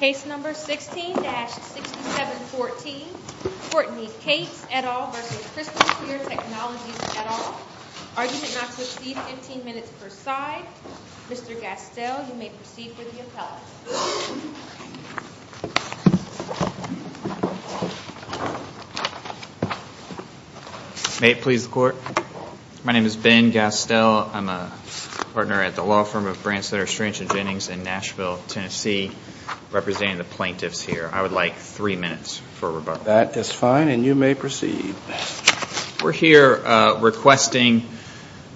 Case number 16-6714, Courtney Cates et al. v. Crystal Clear Technologies et al. Argument not to proceed, 15 minutes per side. Mr. Gastel, you may proceed with the appellate. May it please the court. My name is Ben Gastel. I'm a partner at the law firm of Brandcenter Strange and Jennings in Nashville, Tennessee, representing the plaintiffs here. I would like three minutes for rebuttal. That is fine, and you may proceed. We're here requesting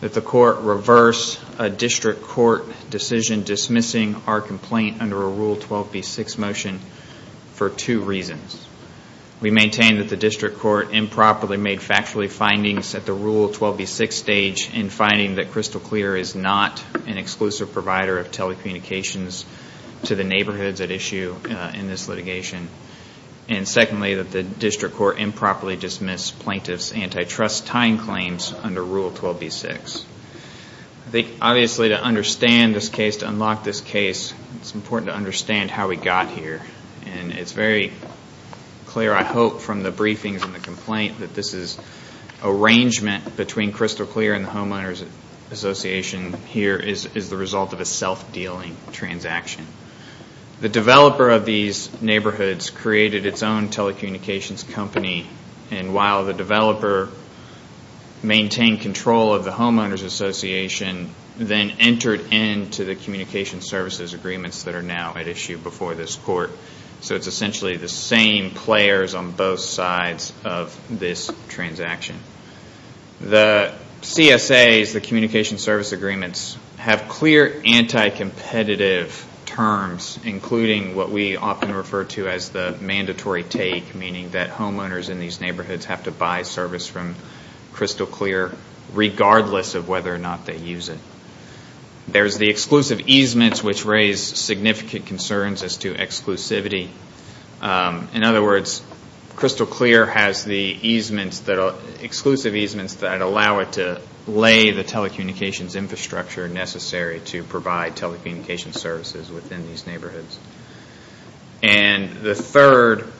that the court reverse a district court decision dismissing our complaint under a Rule 12b-6 motion for two reasons. We maintain that the district court improperly made factually findings at the Rule 12b-6 stage in finding that Crystal Clear is not an exclusive provider of telecommunications to the neighborhoods at issue in this litigation. And secondly, that the district court improperly dismissed plaintiff's antitrust time claims under Rule 12b-6. I think, obviously, to understand this case, to unlock this case, it's important to understand how we got here. And it's very clear, I hope, from the briefings and the complaint that this arrangement between Crystal Clear and the Homeowners Association here is the result of a self-dealing transaction. The developer of these neighborhoods created its own telecommunications company. And while the developer maintained control of the Homeowners Association, then entered into the communication services agreements that are now at issue before this court. So it's essentially the same players on both sides of this transaction. The CSAs, the communication service agreements, have clear anti-competitive terms, including what we often refer to as the mandatory take, meaning that homeowners in these neighborhoods have to buy service from Crystal Clear regardless of whether or not they use it. There's the exclusive easements, which raise significant concerns as to exclusivity. In other words, Crystal Clear has the exclusive easements that allow it to lay the telecommunications infrastructure necessary to provide telecommunications services within these neighborhoods. And the third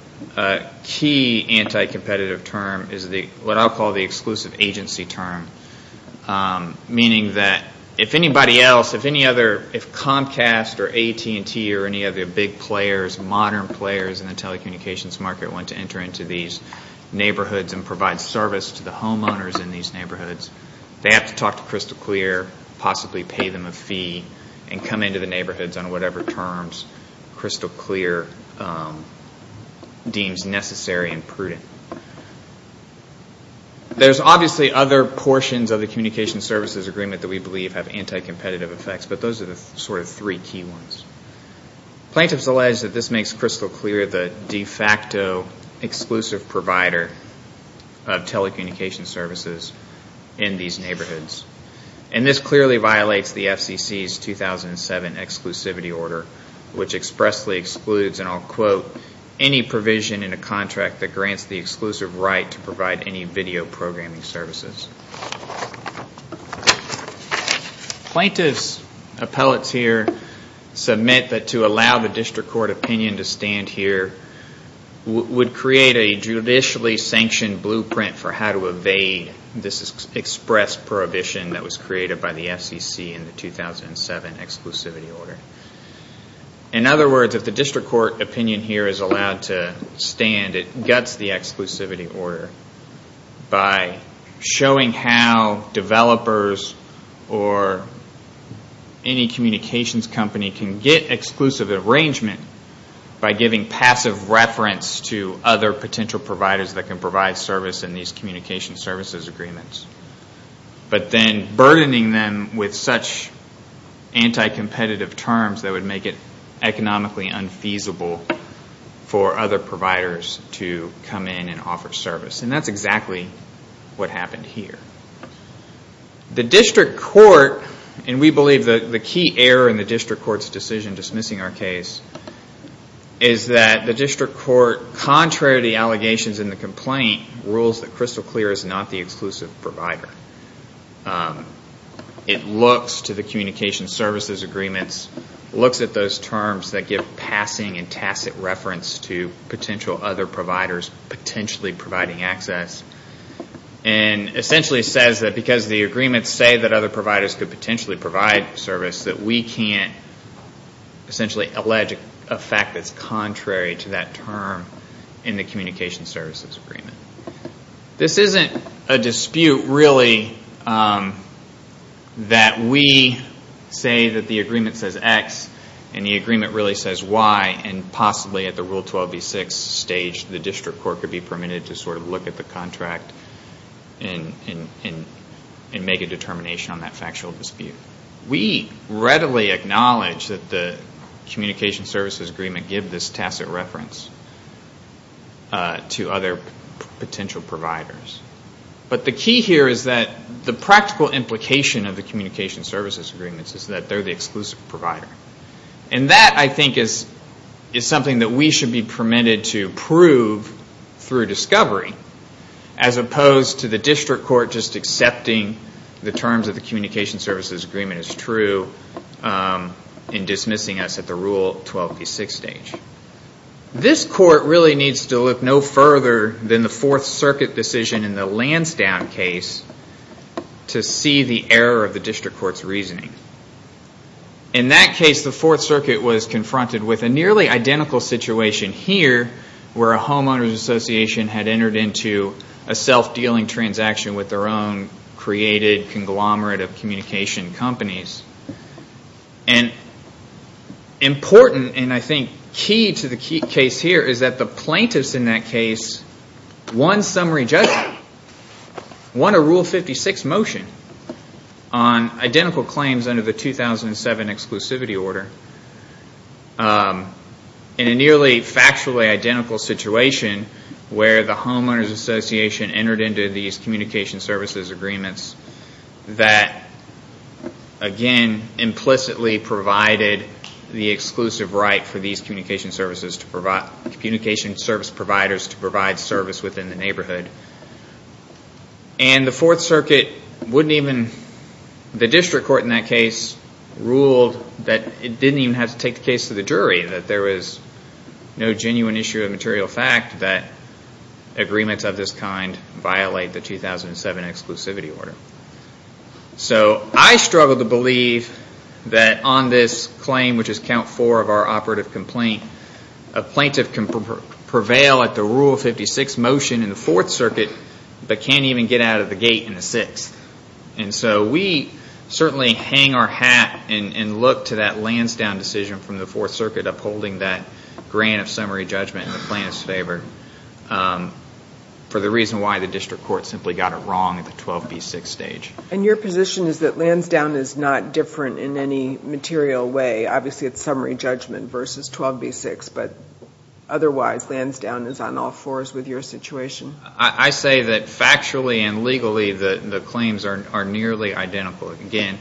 key anti-competitive term is what I'll call the exclusive agency term, meaning that if anybody else, if Comcast or AT&T or any other big players, modern players in the telecommunications market, want to enter into these neighborhoods and provide service to the homeowners in these neighborhoods, they have to talk to Crystal Clear, possibly pay them a fee, and come into the neighborhoods on whatever terms Crystal Clear deems necessary and prudent. There's obviously other portions of the communication services agreement that we believe have anti-competitive effects, but those are the sort of three key ones. Plaintiffs allege that this makes Crystal Clear the de facto exclusive provider of telecommunications services in these neighborhoods. And this clearly violates the FCC's 2007 exclusivity order, which expressly excludes, and I'll quote, any provision in a contract that grants the exclusive right to provide any video programming services. Plaintiffs' appellate here submit that to allow the district court opinion to stand here would create a judicially sanctioned blueprint for how to evade this express prohibition that was created by the FCC in the 2007 exclusivity order. In other words, if the district court opinion here is allowed to stand, it guts the exclusivity order by showing how developers or any communications company can get exclusive arrangement by giving passive reference to other potential providers that can provide service in these communication services agreements. But then burdening them with such anti-competitive terms that would make it economically unfeasible for other providers to come in and offer service. And that's exactly what happened here. The district court, and we believe the key error in the district court's decision dismissing our case, is that the district court, contrary to the allegations in the complaint, rules that Crystal Clear is not the exclusive provider. It looks to the communication services agreements, looks at those terms that give passing and tacit reference to potential other providers potentially providing access. And essentially says that because the agreements say that other providers could potentially provide service, that we can't essentially allege a fact that's contrary to that term in the communication services agreement. This isn't a dispute really that we say that the agreement says X and the agreement really says Y, and possibly at the Rule 12B6 stage the district court could be permitted to sort of look at the contract and make a determination on that factual dispute. We readily acknowledge that the communication services agreement give this tacit reference to other potential providers. But the key here is that the practical implication of the communication services agreements is that they're the exclusive provider. And that I think is something that we should be permitted to prove through discovery, as opposed to the district court just accepting the terms of the communication services agreement is true and dismissing us at the Rule 12B6 stage. This court really needs to look no further than the Fourth Circuit decision in the Lansdowne case to see the error of the district court's reasoning. In that case, the Fourth Circuit was confronted with a nearly identical situation here where a homeowner's association had entered into a self-dealing transaction with their own created conglomerate of communication companies. And important, and I think key to the case here, is that the plaintiffs in that case won summary judgment, won a Rule 56 motion on identical claims under the 2007 exclusivity order. In a nearly factually identical situation where the homeowner's association entered into these communication services agreements that, again, implicitly provided the exclusive right for these communication service providers to provide service within the neighborhood. And the Fourth Circuit wouldn't even, the district court in that case ruled that it didn't even have to take the case to the jury, that there was no genuine issue of material fact that agreements of this kind violate the 2007 exclusivity order. So I struggle to believe that on this claim, which is count four of our operative complaint, a plaintiff can prevail at the Rule 56 motion in the Fourth Circuit but can't even get out of the gate in the Sixth. And so we certainly hang our hat and look to that Lansdowne decision from the Fourth Circuit upholding that grant of summary judgment in the plaintiff's favor for the reason why the district court simply got it wrong at the 12B6 stage. And your position is that Lansdowne is not different in any material way, obviously it's summary judgment versus 12B6, but otherwise Lansdowne is on all fours with your situation? I say that factually and legally the claims are nearly identical. Again,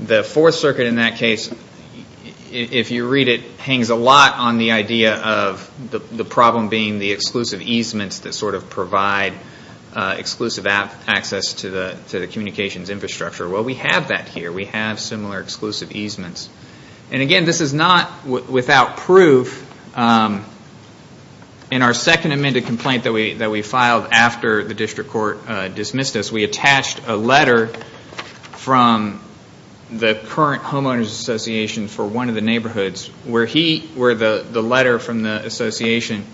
the Fourth Circuit in that case, if you read it, hangs a lot on the idea of the problem being the exclusive easements that sort of provide exclusive access to the communications infrastructure. Well, we have that here. We have similar exclusive easements. And again, this is not without proof. In our second amended complaint that we filed after the district court dismissed us, we attached a letter from the current homeowners association for one of the neighborhoods where the letter from the association,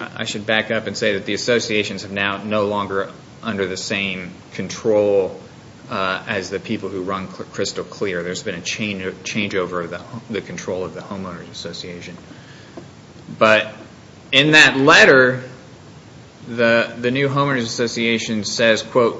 I should back up and say that the associations are now no longer under the same control as the people who run Crystal Clear. There's been a changeover of the control of the homeowners association. But in that letter, the new homeowners association says, So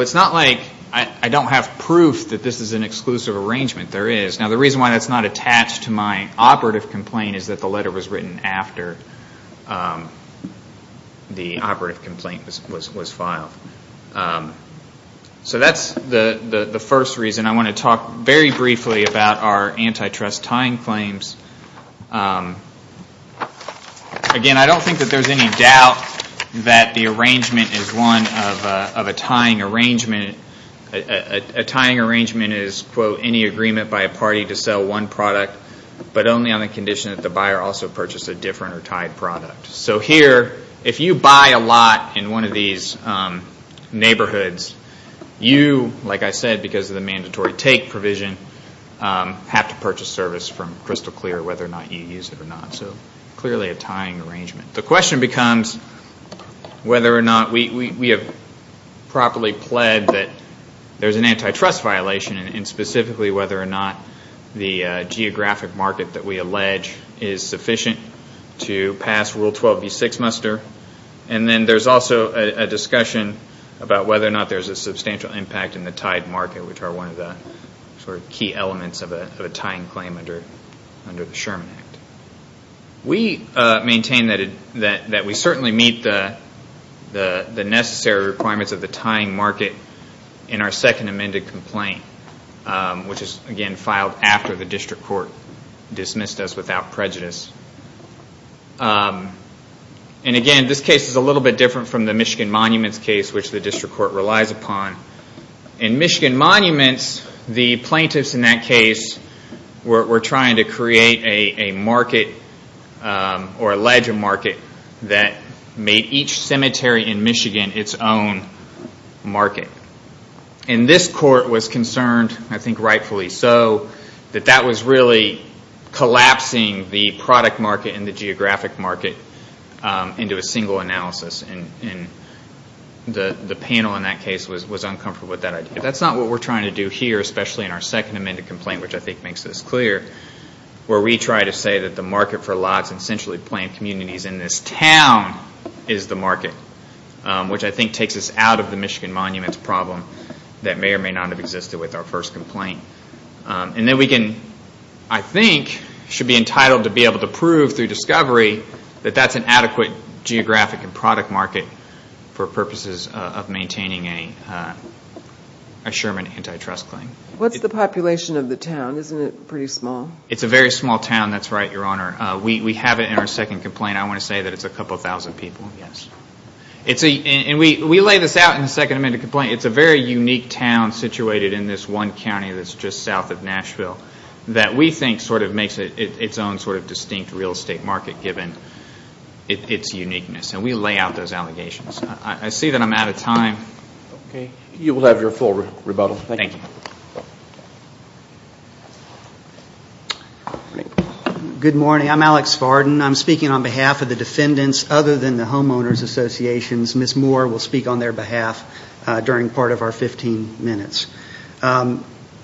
it's not like I don't have proof that this is an exclusive arrangement. There is. Now, the reason why that's not attached to my operative complaint is that the letter was written after the operative complaint was filed. So that's the first reason. I want to talk very briefly about our antitrust tying claims. Again, I don't think that there's any doubt that the arrangement is one of a tying arrangement. A tying arrangement is, quote, any agreement by a party to sell one product, but only on the condition that the buyer also purchase a different or tied product. So here, if you buy a lot in one of these neighborhoods, you, like I said, because of the mandatory take provision, have to purchase service from Crystal Clear whether or not you use it or not. So clearly a tying arrangement. The question becomes whether or not we have properly pledged that there's an antitrust violation, and specifically whether or not the geographic market that we allege is sufficient to pass Rule 12b6 muster. And then there's also a discussion about whether or not there's a substantial impact in the tied market, which are one of the key elements of a tying claim under the Sherman Act. We maintain that we certainly meet the necessary requirements of the tying market in our second amended complaint, which is, again, filed after the district court dismissed us without prejudice. And again, this case is a little bit different from the Michigan Monuments case, which the district court relies upon. In Michigan Monuments, the plaintiffs in that case were trying to create a market or allege a market that made each cemetery in Michigan its own market. And this court was concerned, I think rightfully so, that that was really collapsing the product market and the geographic market into a single analysis. And the panel in that case was uncomfortable with that idea. That's not what we're trying to do here, especially in our second amended complaint, which I think makes this clear, where we try to say that the market for lots and centrally planned communities in this town is the market, which I think takes us out of the Michigan Monuments problem that may or may not have existed with our first complaint. And then we can, I think, should be entitled to be able to prove through discovery that that's an adequate geographic and product market for purposes of maintaining a Sherman antitrust claim. What's the population of the town? Isn't it pretty small? It's a very small town, that's right, Your Honor. We have it in our second complaint. I want to say that it's a couple thousand people, yes. And we lay this out in the second amended complaint. It's a very unique town situated in this one county that's just south of Nashville that we think sort of makes it its own sort of distinct real estate market given its uniqueness. And we lay out those allegations. I see that I'm out of time. Okay. You will have your full rebuttal. Thank you. Thank you. Good morning. I'm Alex Varden. I'm speaking on behalf of the defendants other than the homeowners associations. Ms. Moore will speak on their behalf during part of our 15 minutes.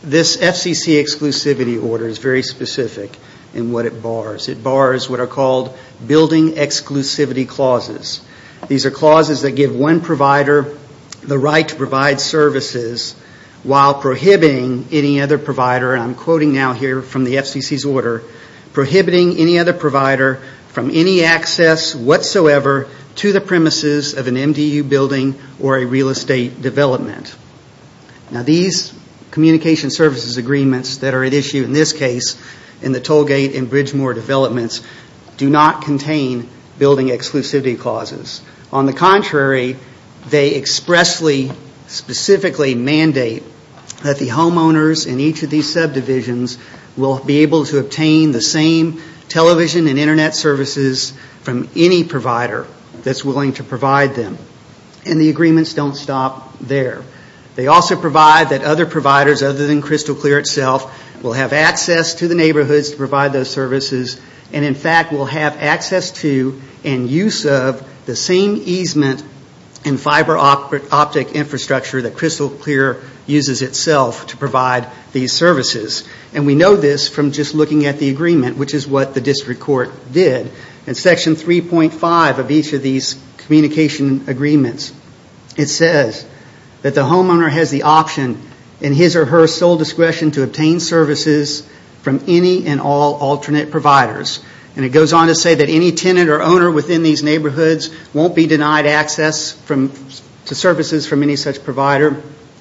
This FCC exclusivity order is very specific in what it bars. It bars what are called building exclusivity clauses. These are clauses that give one provider the right to provide services while prohibiting any other provider, and I'm quoting now here from the FCC's order, prohibiting any other provider from any access whatsoever to the premises of an MDU building or a real estate development. Now these communication services agreements that are at issue in this case in the Tollgate and Bridgemore developments do not contain building exclusivity clauses. On the contrary, they expressly, specifically mandate that the homeowners in each of these subdivisions will be able to obtain the same television and Internet services from any provider that's willing to provide them. And the agreements don't stop there. They also provide that other providers other than Crystal Clear itself will have access to the neighborhoods to provide those services, and in fact will have access to and use of the same easement and fiber optic infrastructure that Crystal Clear uses itself to provide these services. And we know this from just looking at the agreement, which is what the district court did. In section 3.5 of each of these communication agreements, it says that the homeowner has the option in his or her sole discretion to obtain services from any and all alternate providers. And it goes on to say that any tenant or owner within these neighborhoods won't be denied access to services from any such provider,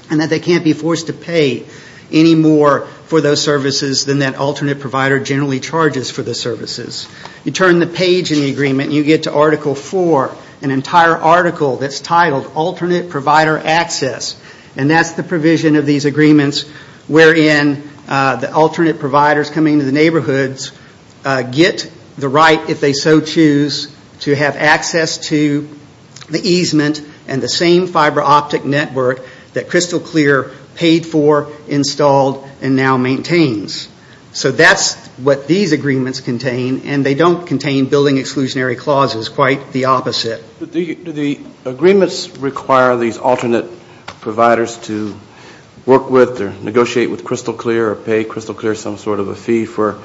and that they can't be forced to pay any more for those services than that alternate provider generally charges for the services. You turn the page in the agreement and you get to Article 4, an entire article that's titled And that's the provision of these agreements wherein the alternate providers coming to the neighborhoods get the right, if they so choose, to have access to the easement and the same fiber optic network that Crystal Clear paid for, installed, and now maintains. So that's what these agreements contain, and they don't contain building exclusionary clauses. Quite the opposite. Do the agreements require these alternate providers to work with or negotiate with Crystal Clear or pay Crystal Clear some sort of a fee for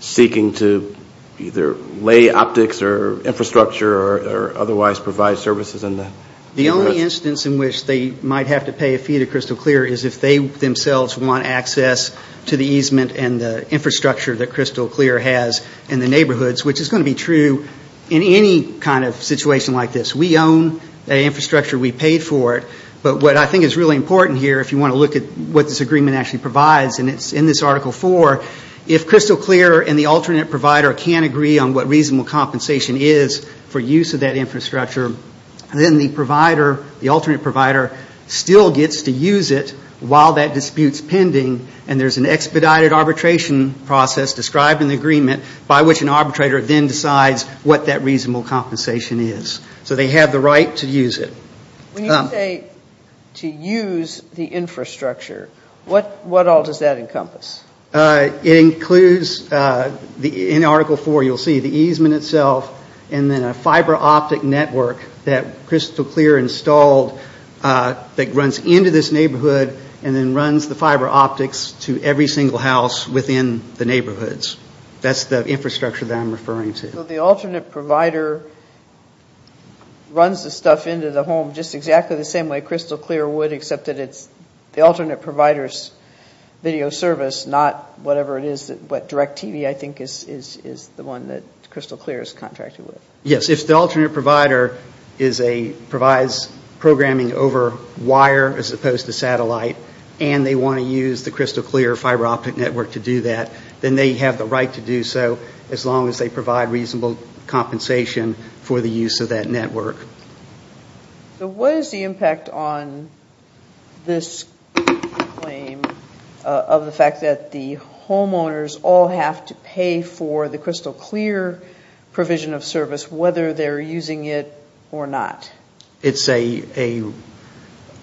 seeking to either lay optics or infrastructure or otherwise provide services in the neighborhoods? The only instance in which they might have to pay a fee to Crystal Clear is if they themselves want access to the easement and the infrastructure that Crystal Clear has in the neighborhoods, which is going to be true in any kind of situation like this. We own the infrastructure, we paid for it, but what I think is really important here, if you want to look at what this agreement actually provides, and it's in this Article 4, if Crystal Clear and the alternate provider can't agree on what reasonable compensation is for use of that infrastructure, then the provider, the alternate provider, still gets to use it while that dispute's pending, and there's an expedited arbitration process described in the agreement by which an arbitrator then decides what that reasonable compensation is. So they have the right to use it. When you say to use the infrastructure, what all does that encompass? It includes, in Article 4 you'll see, the easement itself and then a fiber optic network that Crystal Clear installed that runs into this neighborhood and then runs the fiber optics to every single house within the neighborhoods. That's the infrastructure that I'm referring to. So the alternate provider runs the stuff into the home just exactly the same way Crystal Clear would, except that it's the alternate provider's video service, not whatever it is, what DirecTV I think is the one that Crystal Clear is contracting with. Yes. If the alternate provider provides programming over wire as opposed to satellite and they want to use the Crystal Clear fiber optic network to do that, then they have the right to do so as long as they provide reasonable compensation for the use of that network. So what is the impact on this claim of the fact that the homeowners all have to pay for the Crystal Clear provision of service, whether they're using it or not? It's an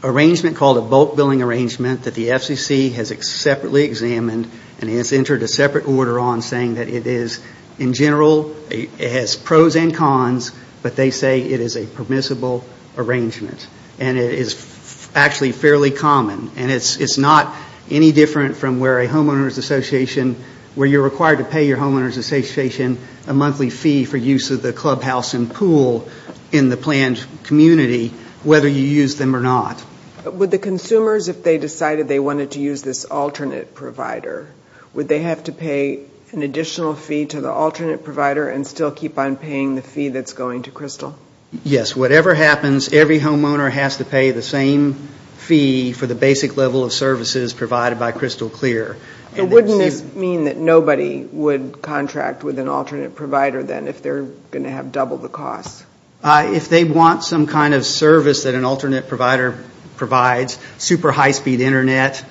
arrangement called a bulk billing arrangement that the FCC has separately examined and has entered a separate order on saying that it is, in general, it has pros and cons, but they say it is a permissible arrangement. And it is actually fairly common. And it's not any different from where a homeowners association, where you're required to pay your homeowners association a monthly fee for use of the clubhouse and pool in the planned community, whether you use them or not. Would the consumers, if they decided they wanted to use this alternate provider, would they have to pay an additional fee to the alternate provider and still keep on paying the fee that's going to Crystal? Yes. Whatever happens, every homeowner has to pay the same fee for the basic level of services provided by Crystal Clear. So wouldn't this mean that nobody would contract with an alternate provider then if they're going to have double the cost? If they want some kind of service that an alternate provider provides, super high speed Internet,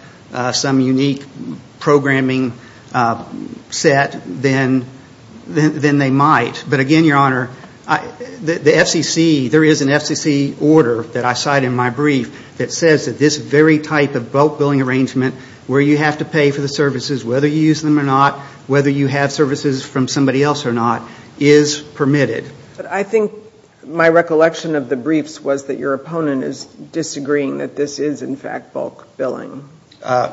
some unique programming set, then they might. But again, Your Honor, the FCC, there is an FCC order that I cite in my brief that says that this very type of bulk billing arrangement, where you have to pay for the services, whether you use them or not, whether you have services from somebody else or not, is permitted. But I think my recollection of the briefs was that your opponent is disagreeing that this is, in fact, bulk billing. I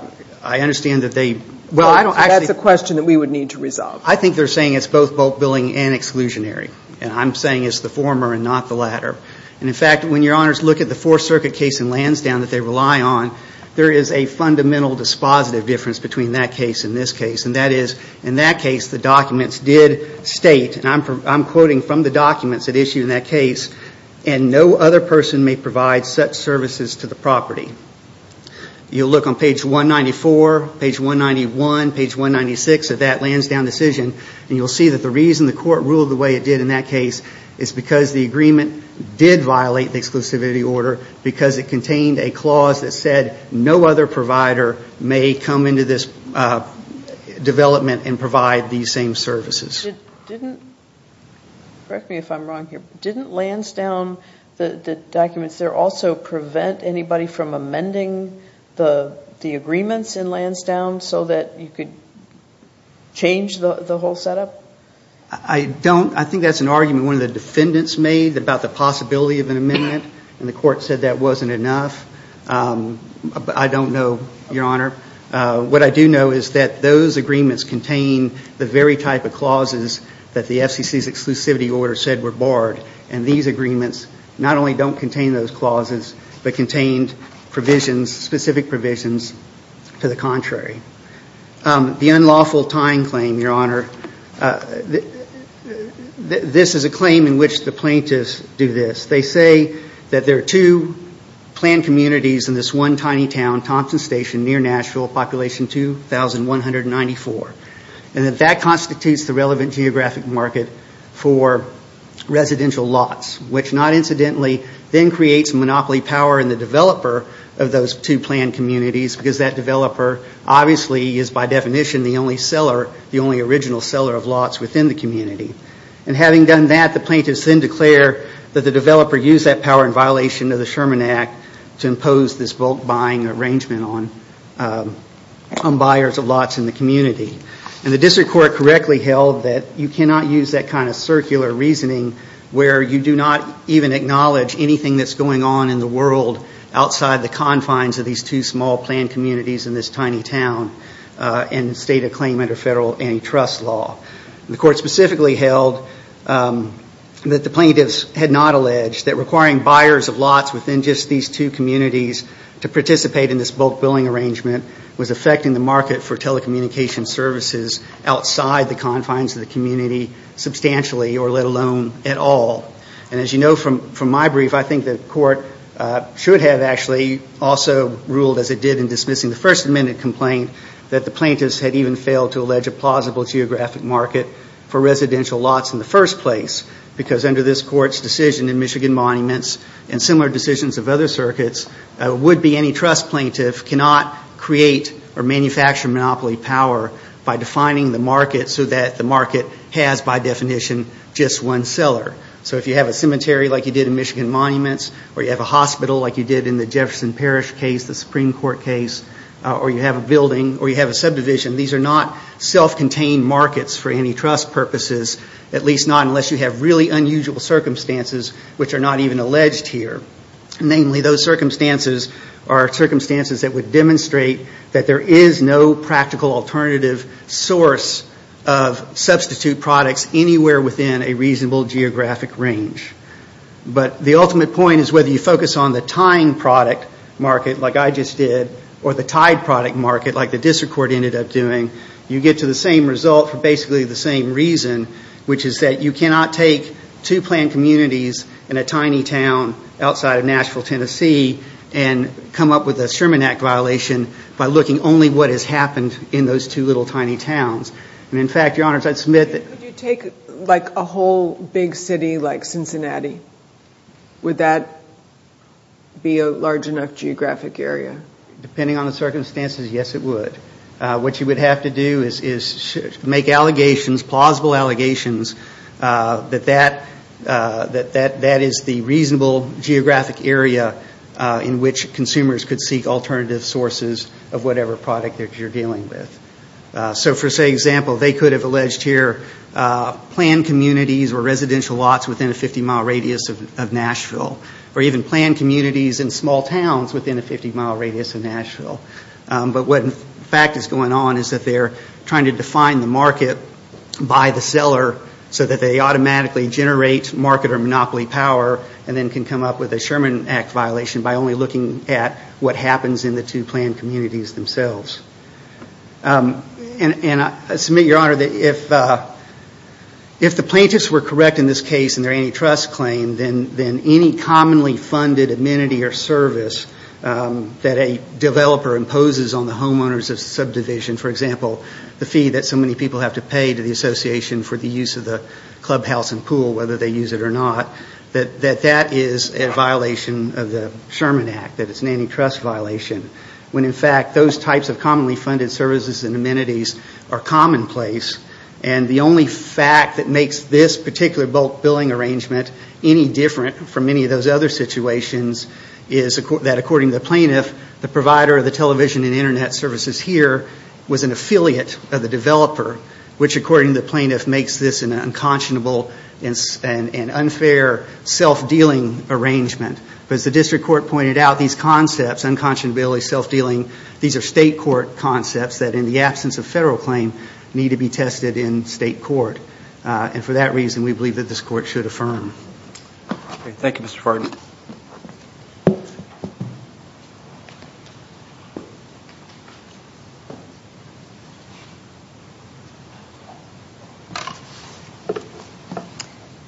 understand that they – Well, that's a question that we would need to resolve. I think they're saying it's both bulk billing and exclusionary, and I'm saying it's the former and not the latter. And in fact, when Your Honors look at the Fourth Circuit case in Lansdowne that they rely on, there is a fundamental dispositive difference between that case and this case, and that is, in that case, the documents did state, and I'm quoting from the documents that issue in that case, and no other person may provide such services to the property. You'll look on page 194, page 191, page 196 of that Lansdowne decision, and you'll see that the reason the court ruled the way it did in that case is because the agreement did violate the exclusivity order, because it contained a clause that said no other provider may come into this development and provide these same services. Didn't – correct me if I'm wrong here – didn't Lansdowne, the documents there, also prevent anybody from amending the agreements in Lansdowne so that you could change the whole setup? I don't – I think that's an argument one of the defendants made about the possibility of an amendment, and the court said that wasn't enough. I don't know, Your Honor. What I do know is that those agreements contain the very type of clauses that the FCC's exclusivity order said were barred, and these agreements not only don't contain those clauses, but contained provisions, specific provisions, to the contrary. The unlawful tying claim, Your Honor, this is a claim in which the plaintiffs do this. They say that there are two planned communities in this one tiny town, Thompson Station, near Nashville, population 2,194, and that that constitutes the relevant geographic market for residential lots, which not incidentally then creates monopoly power in the developer of those two planned communities because that developer obviously is by definition the only seller, the only original seller of lots within the community. And having done that, the plaintiffs then declare that the developer used that power in violation of the Sherman Act to impose this bulk buying arrangement on buyers of lots in the community. And the district court correctly held that you cannot use that kind of circular reasoning where you do not even acknowledge anything that's going on in the world outside the confines of these two small planned communities in this tiny town and state a claim under federal antitrust law. The court specifically held that the plaintiffs had not alleged that requiring buyers of lots within just these two communities to participate in this bulk billing arrangement was affecting the market for telecommunication services outside the confines of the community substantially or let alone at all. And as you know from my brief, I think the court should have actually also ruled, as it did in dismissing the First Amendment complaint, that the plaintiffs had even failed to allege a plausible geographic market for residential lots in the first place because under this court's decision in Michigan Monuments and similar decisions of other circuits, would-be antitrust plaintiff cannot create or manufacture monopoly power by defining the market so that the market has by definition just one seller. So if you have a cemetery like you did in Michigan Monuments or you have a hospital like you did in the Jefferson Parish case, the Supreme Court case, or you have a building or you have a subdivision, these are not self-contained markets for antitrust purposes, at least not unless you have really unusual circumstances which are not even alleged here. Namely, those circumstances are circumstances that would demonstrate that there is no practical alternative source of substitute products anywhere within a reasonable geographic range. But the ultimate point is whether you focus on the tying product market like I just did or the tied product market like the district court ended up doing, you get to the same result for basically the same reason, which is that you cannot take two planned communities in a tiny town outside of Nashville, Tennessee, and come up with a Sherman Act violation by looking only what has happened in those two little tiny towns. And in fact, Your Honors, I'd submit that- Would you take like a whole big city like Cincinnati? Would that be a large enough geographic area? Depending on the circumstances, yes, it would. What you would have to do is make allegations, plausible allegations, that that is the reasonable geographic area in which consumers could seek alternative sources of whatever product that you're dealing with. So for example, they could have alleged here planned communities or residential lots within a 50-mile radius of Nashville or even planned communities in small towns within a 50-mile radius of Nashville. But what in fact is going on is that they're trying to define the market by the seller so that they automatically generate market or monopoly power and then can come up with a Sherman Act violation by only looking at what happens in the two planned communities themselves. And I submit, Your Honor, that if the plaintiffs were correct in this case in their antitrust claim, then any commonly funded amenity or service that a developer imposes on the homeowners of subdivision, for example, the fee that so many people have to pay to the association for the use of the clubhouse and pool, whether they use it or not, that that is a violation of the Sherman Act, that it's an antitrust violation when in fact those types of commonly funded services and amenities are commonplace. And the only fact that makes this particular bulk billing arrangement any different from many of those other situations is that according to the plaintiff, the provider of the television and Internet services here was an affiliate of the developer, which according to the plaintiff makes this an unconscionable and unfair self-dealing arrangement. But as the district court pointed out, these concepts, unconscionability, self-dealing, these are state court concepts that in the absence of federal claim need to be tested in state court. And for that reason, we believe that this court should affirm. Thank you, Mr. Fardon.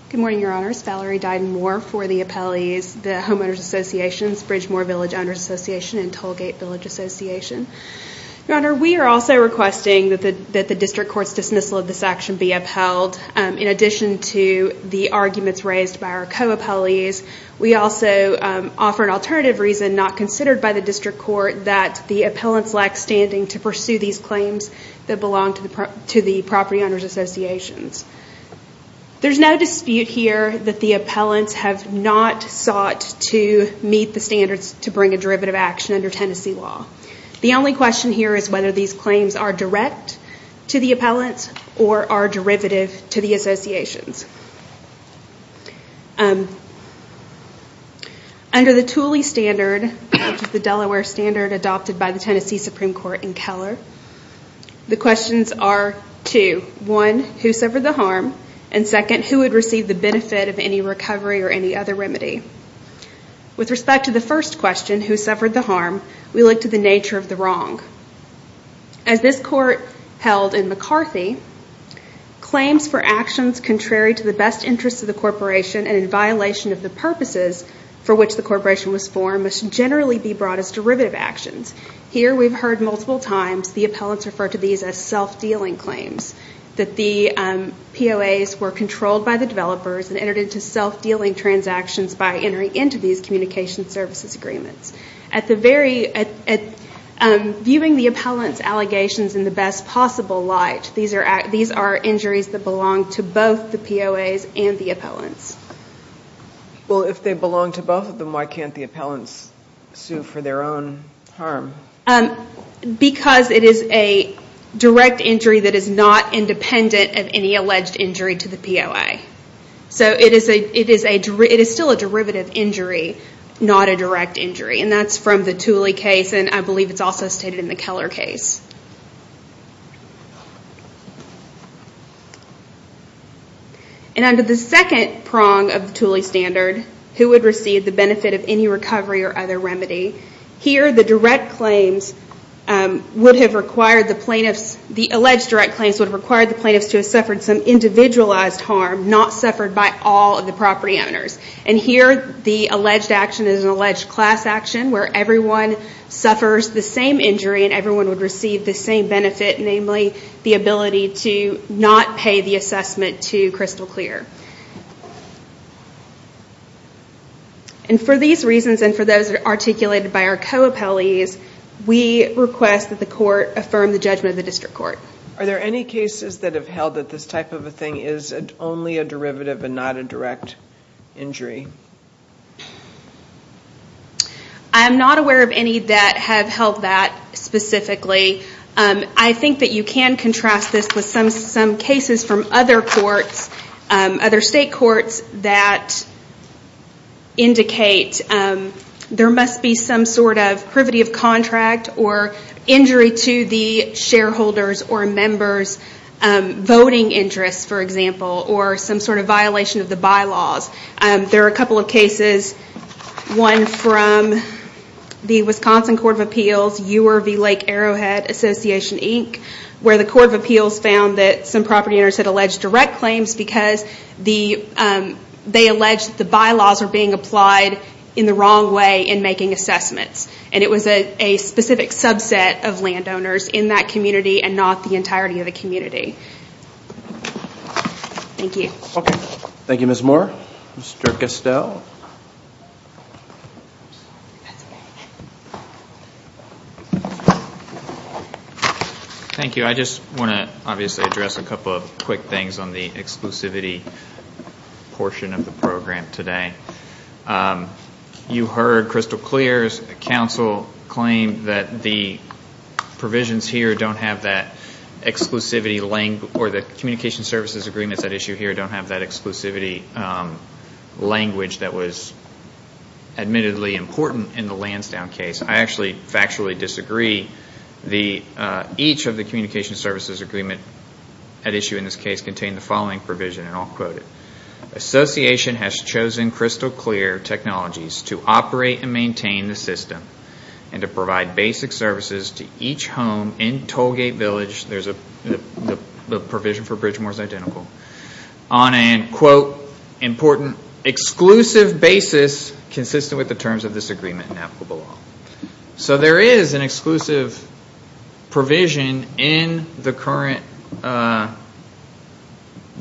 Good morning, Your Honors. Valerie Dyden Moore for the appellees, the Homeowners Association, Bridgemore Village Owners Association, and Tollgate Village Association. Your Honor, we are also requesting that the district court's dismissal of this action be upheld in addition to the arguments raised by our co-appellees. We also offer an alternative reason not considered by the district court that the appellants lack standing to pursue these claims that belong to the property owners associations. There's no dispute here that the appellants have not sought to meet the standards to bring a derivative action under Tennessee law. The only question here is whether these claims are direct to the appellants or are derivative to the associations. Under the Thule standard, which is the Delaware standard adopted by the Tennessee Supreme Court in Keller, the questions are two. One, who suffered the harm? And second, who would receive the benefit of any recovery or any other remedy? With respect to the first question, who suffered the harm, we look to the nature of the wrong. As this court held in McCarthy, claims for actions contrary to the best interests of the corporation and in violation of the purposes for which the corporation was formed must generally be brought as derivative actions. Here we've heard multiple times the appellants refer to these as self-dealing claims, that the POAs were controlled by the developers and entered into self-dealing transactions by entering into these communication services agreements. Viewing the appellants' allegations in the best possible light, these are injuries that belong to both the POAs and the appellants. Well, if they belong to both of them, why can't the appellants sue for their own harm? Because it is a direct injury that is not independent of any alleged injury to the POA. So it is still a derivative injury, not a direct injury. And that's from the Tooley case, and I believe it's also stated in the Keller case. And under the second prong of the Tooley standard, who would receive the benefit of any recovery or other remedy, here the alleged direct claims would have required the plaintiffs to have suffered some individualized harm not suffered by all of the property owners. And here the alleged action is an alleged class action where everyone suffers the same injury and everyone would receive the same benefit, namely the ability to not pay the assessment to Crystal Clear. And for these reasons and for those articulated by our co-appellees, we request that the court affirm the judgment of the district court. Are there any cases that have held that this type of a thing is only a derivative and not a direct injury? I'm not aware of any that have held that specifically. I think that you can contrast this with some cases from other courts, other state courts that indicate there must be some sort of privity of contract or injury to the shareholder's or a member's voting interests, for example, or some sort of violation of the bylaws. There are a couple of cases, one from the Wisconsin Court of Appeals, Ewer v. Lake Arrowhead Association, Inc., where the Court of Appeals found that some property owners had alleged direct claims because they alleged the bylaws were being applied in the wrong way in making assessments. And it was a specific subset of landowners in that community and not the entirety of the community. Thank you. Thank you, Ms. Moore. Mr. Castell? Thank you. I just want to obviously address a couple of quick things on the exclusivity portion of the program today. You heard Crystal Clear's counsel claim that the provisions here don't have that exclusivity, or the communication services agreements at issue here don't have that exclusivity language that was admittedly important in the Lansdowne case. I actually factually disagree. Each of the communication services agreements at issue in this case contain the following provision, and I'll quote it. Association has chosen Crystal Clear Technologies to operate and maintain the system and to provide basic services to each home in Tollgate Village, the provision for Bridgemore is identical, on an, quote, important exclusive basis consistent with the terms of this agreement and applicable law. So there is an exclusive provision in the current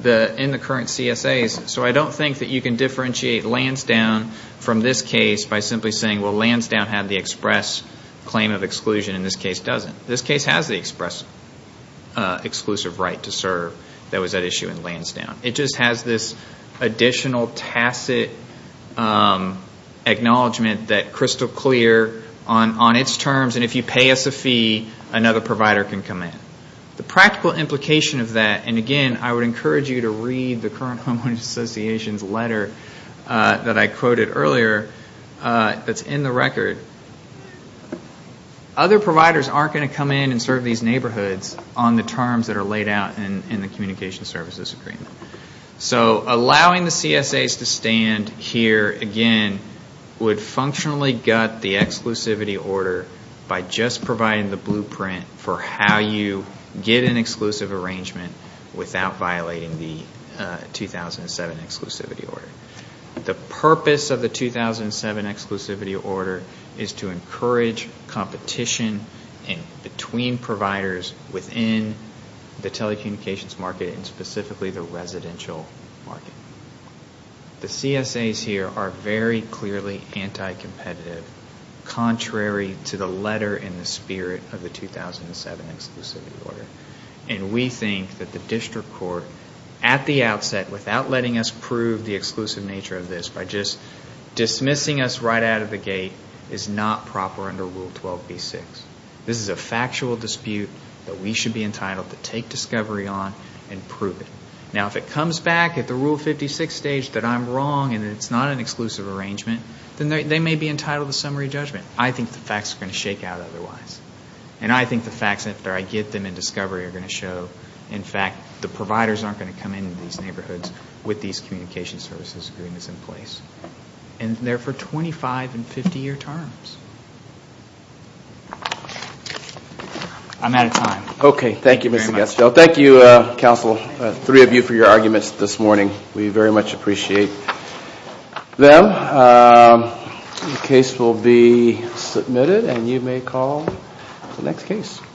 CSAs, so I don't think that you can differentiate Lansdowne from this case by simply saying, well, Lansdowne had the express claim of exclusion and this case doesn't. This case has the express exclusive right to serve that was at issue in Lansdowne. It just has this additional tacit acknowledgment that Crystal Clear, on its terms, and if you pay us a fee, another provider can come in. The practical implication of that, and again, I would encourage you to read the current homeowners association's letter that I quoted earlier that's in the record. Other providers aren't going to come in and serve these neighborhoods on the terms that are laid out in the communication services agreement. So allowing the CSAs to stand here, again, would functionally gut the exclusivity order by just providing the blueprint for how you get an exclusive arrangement without violating the 2007 exclusivity order. The purpose of the 2007 exclusivity order is to encourage competition between providers within the telecommunications market and specifically the residential market. The CSAs here are very clearly anti-competitive, contrary to the letter in the spirit of the 2007 exclusivity order. And we think that the district court, at the outset, without letting us prove the exclusive nature of this, by just dismissing us right out of the gate, is not proper under Rule 12b-6. This is a factual dispute that we should be entitled to take discovery on and prove it. Now, if it comes back at the Rule 56 stage that I'm wrong and it's not an exclusive arrangement, then they may be entitled to summary judgment. I think the facts are going to shake out otherwise. And I think the facts, after I get them in discovery, are going to show, in fact, that the providers aren't going to come into these neighborhoods with these communication services agreements in place. And they're for 25- and 50-year terms. I'm out of time. Okay. Thank you, Mr. Gaschel. Thank you, counsel, three of you for your arguments this morning. We very much appreciate them. The case will be submitted and you may call the next case.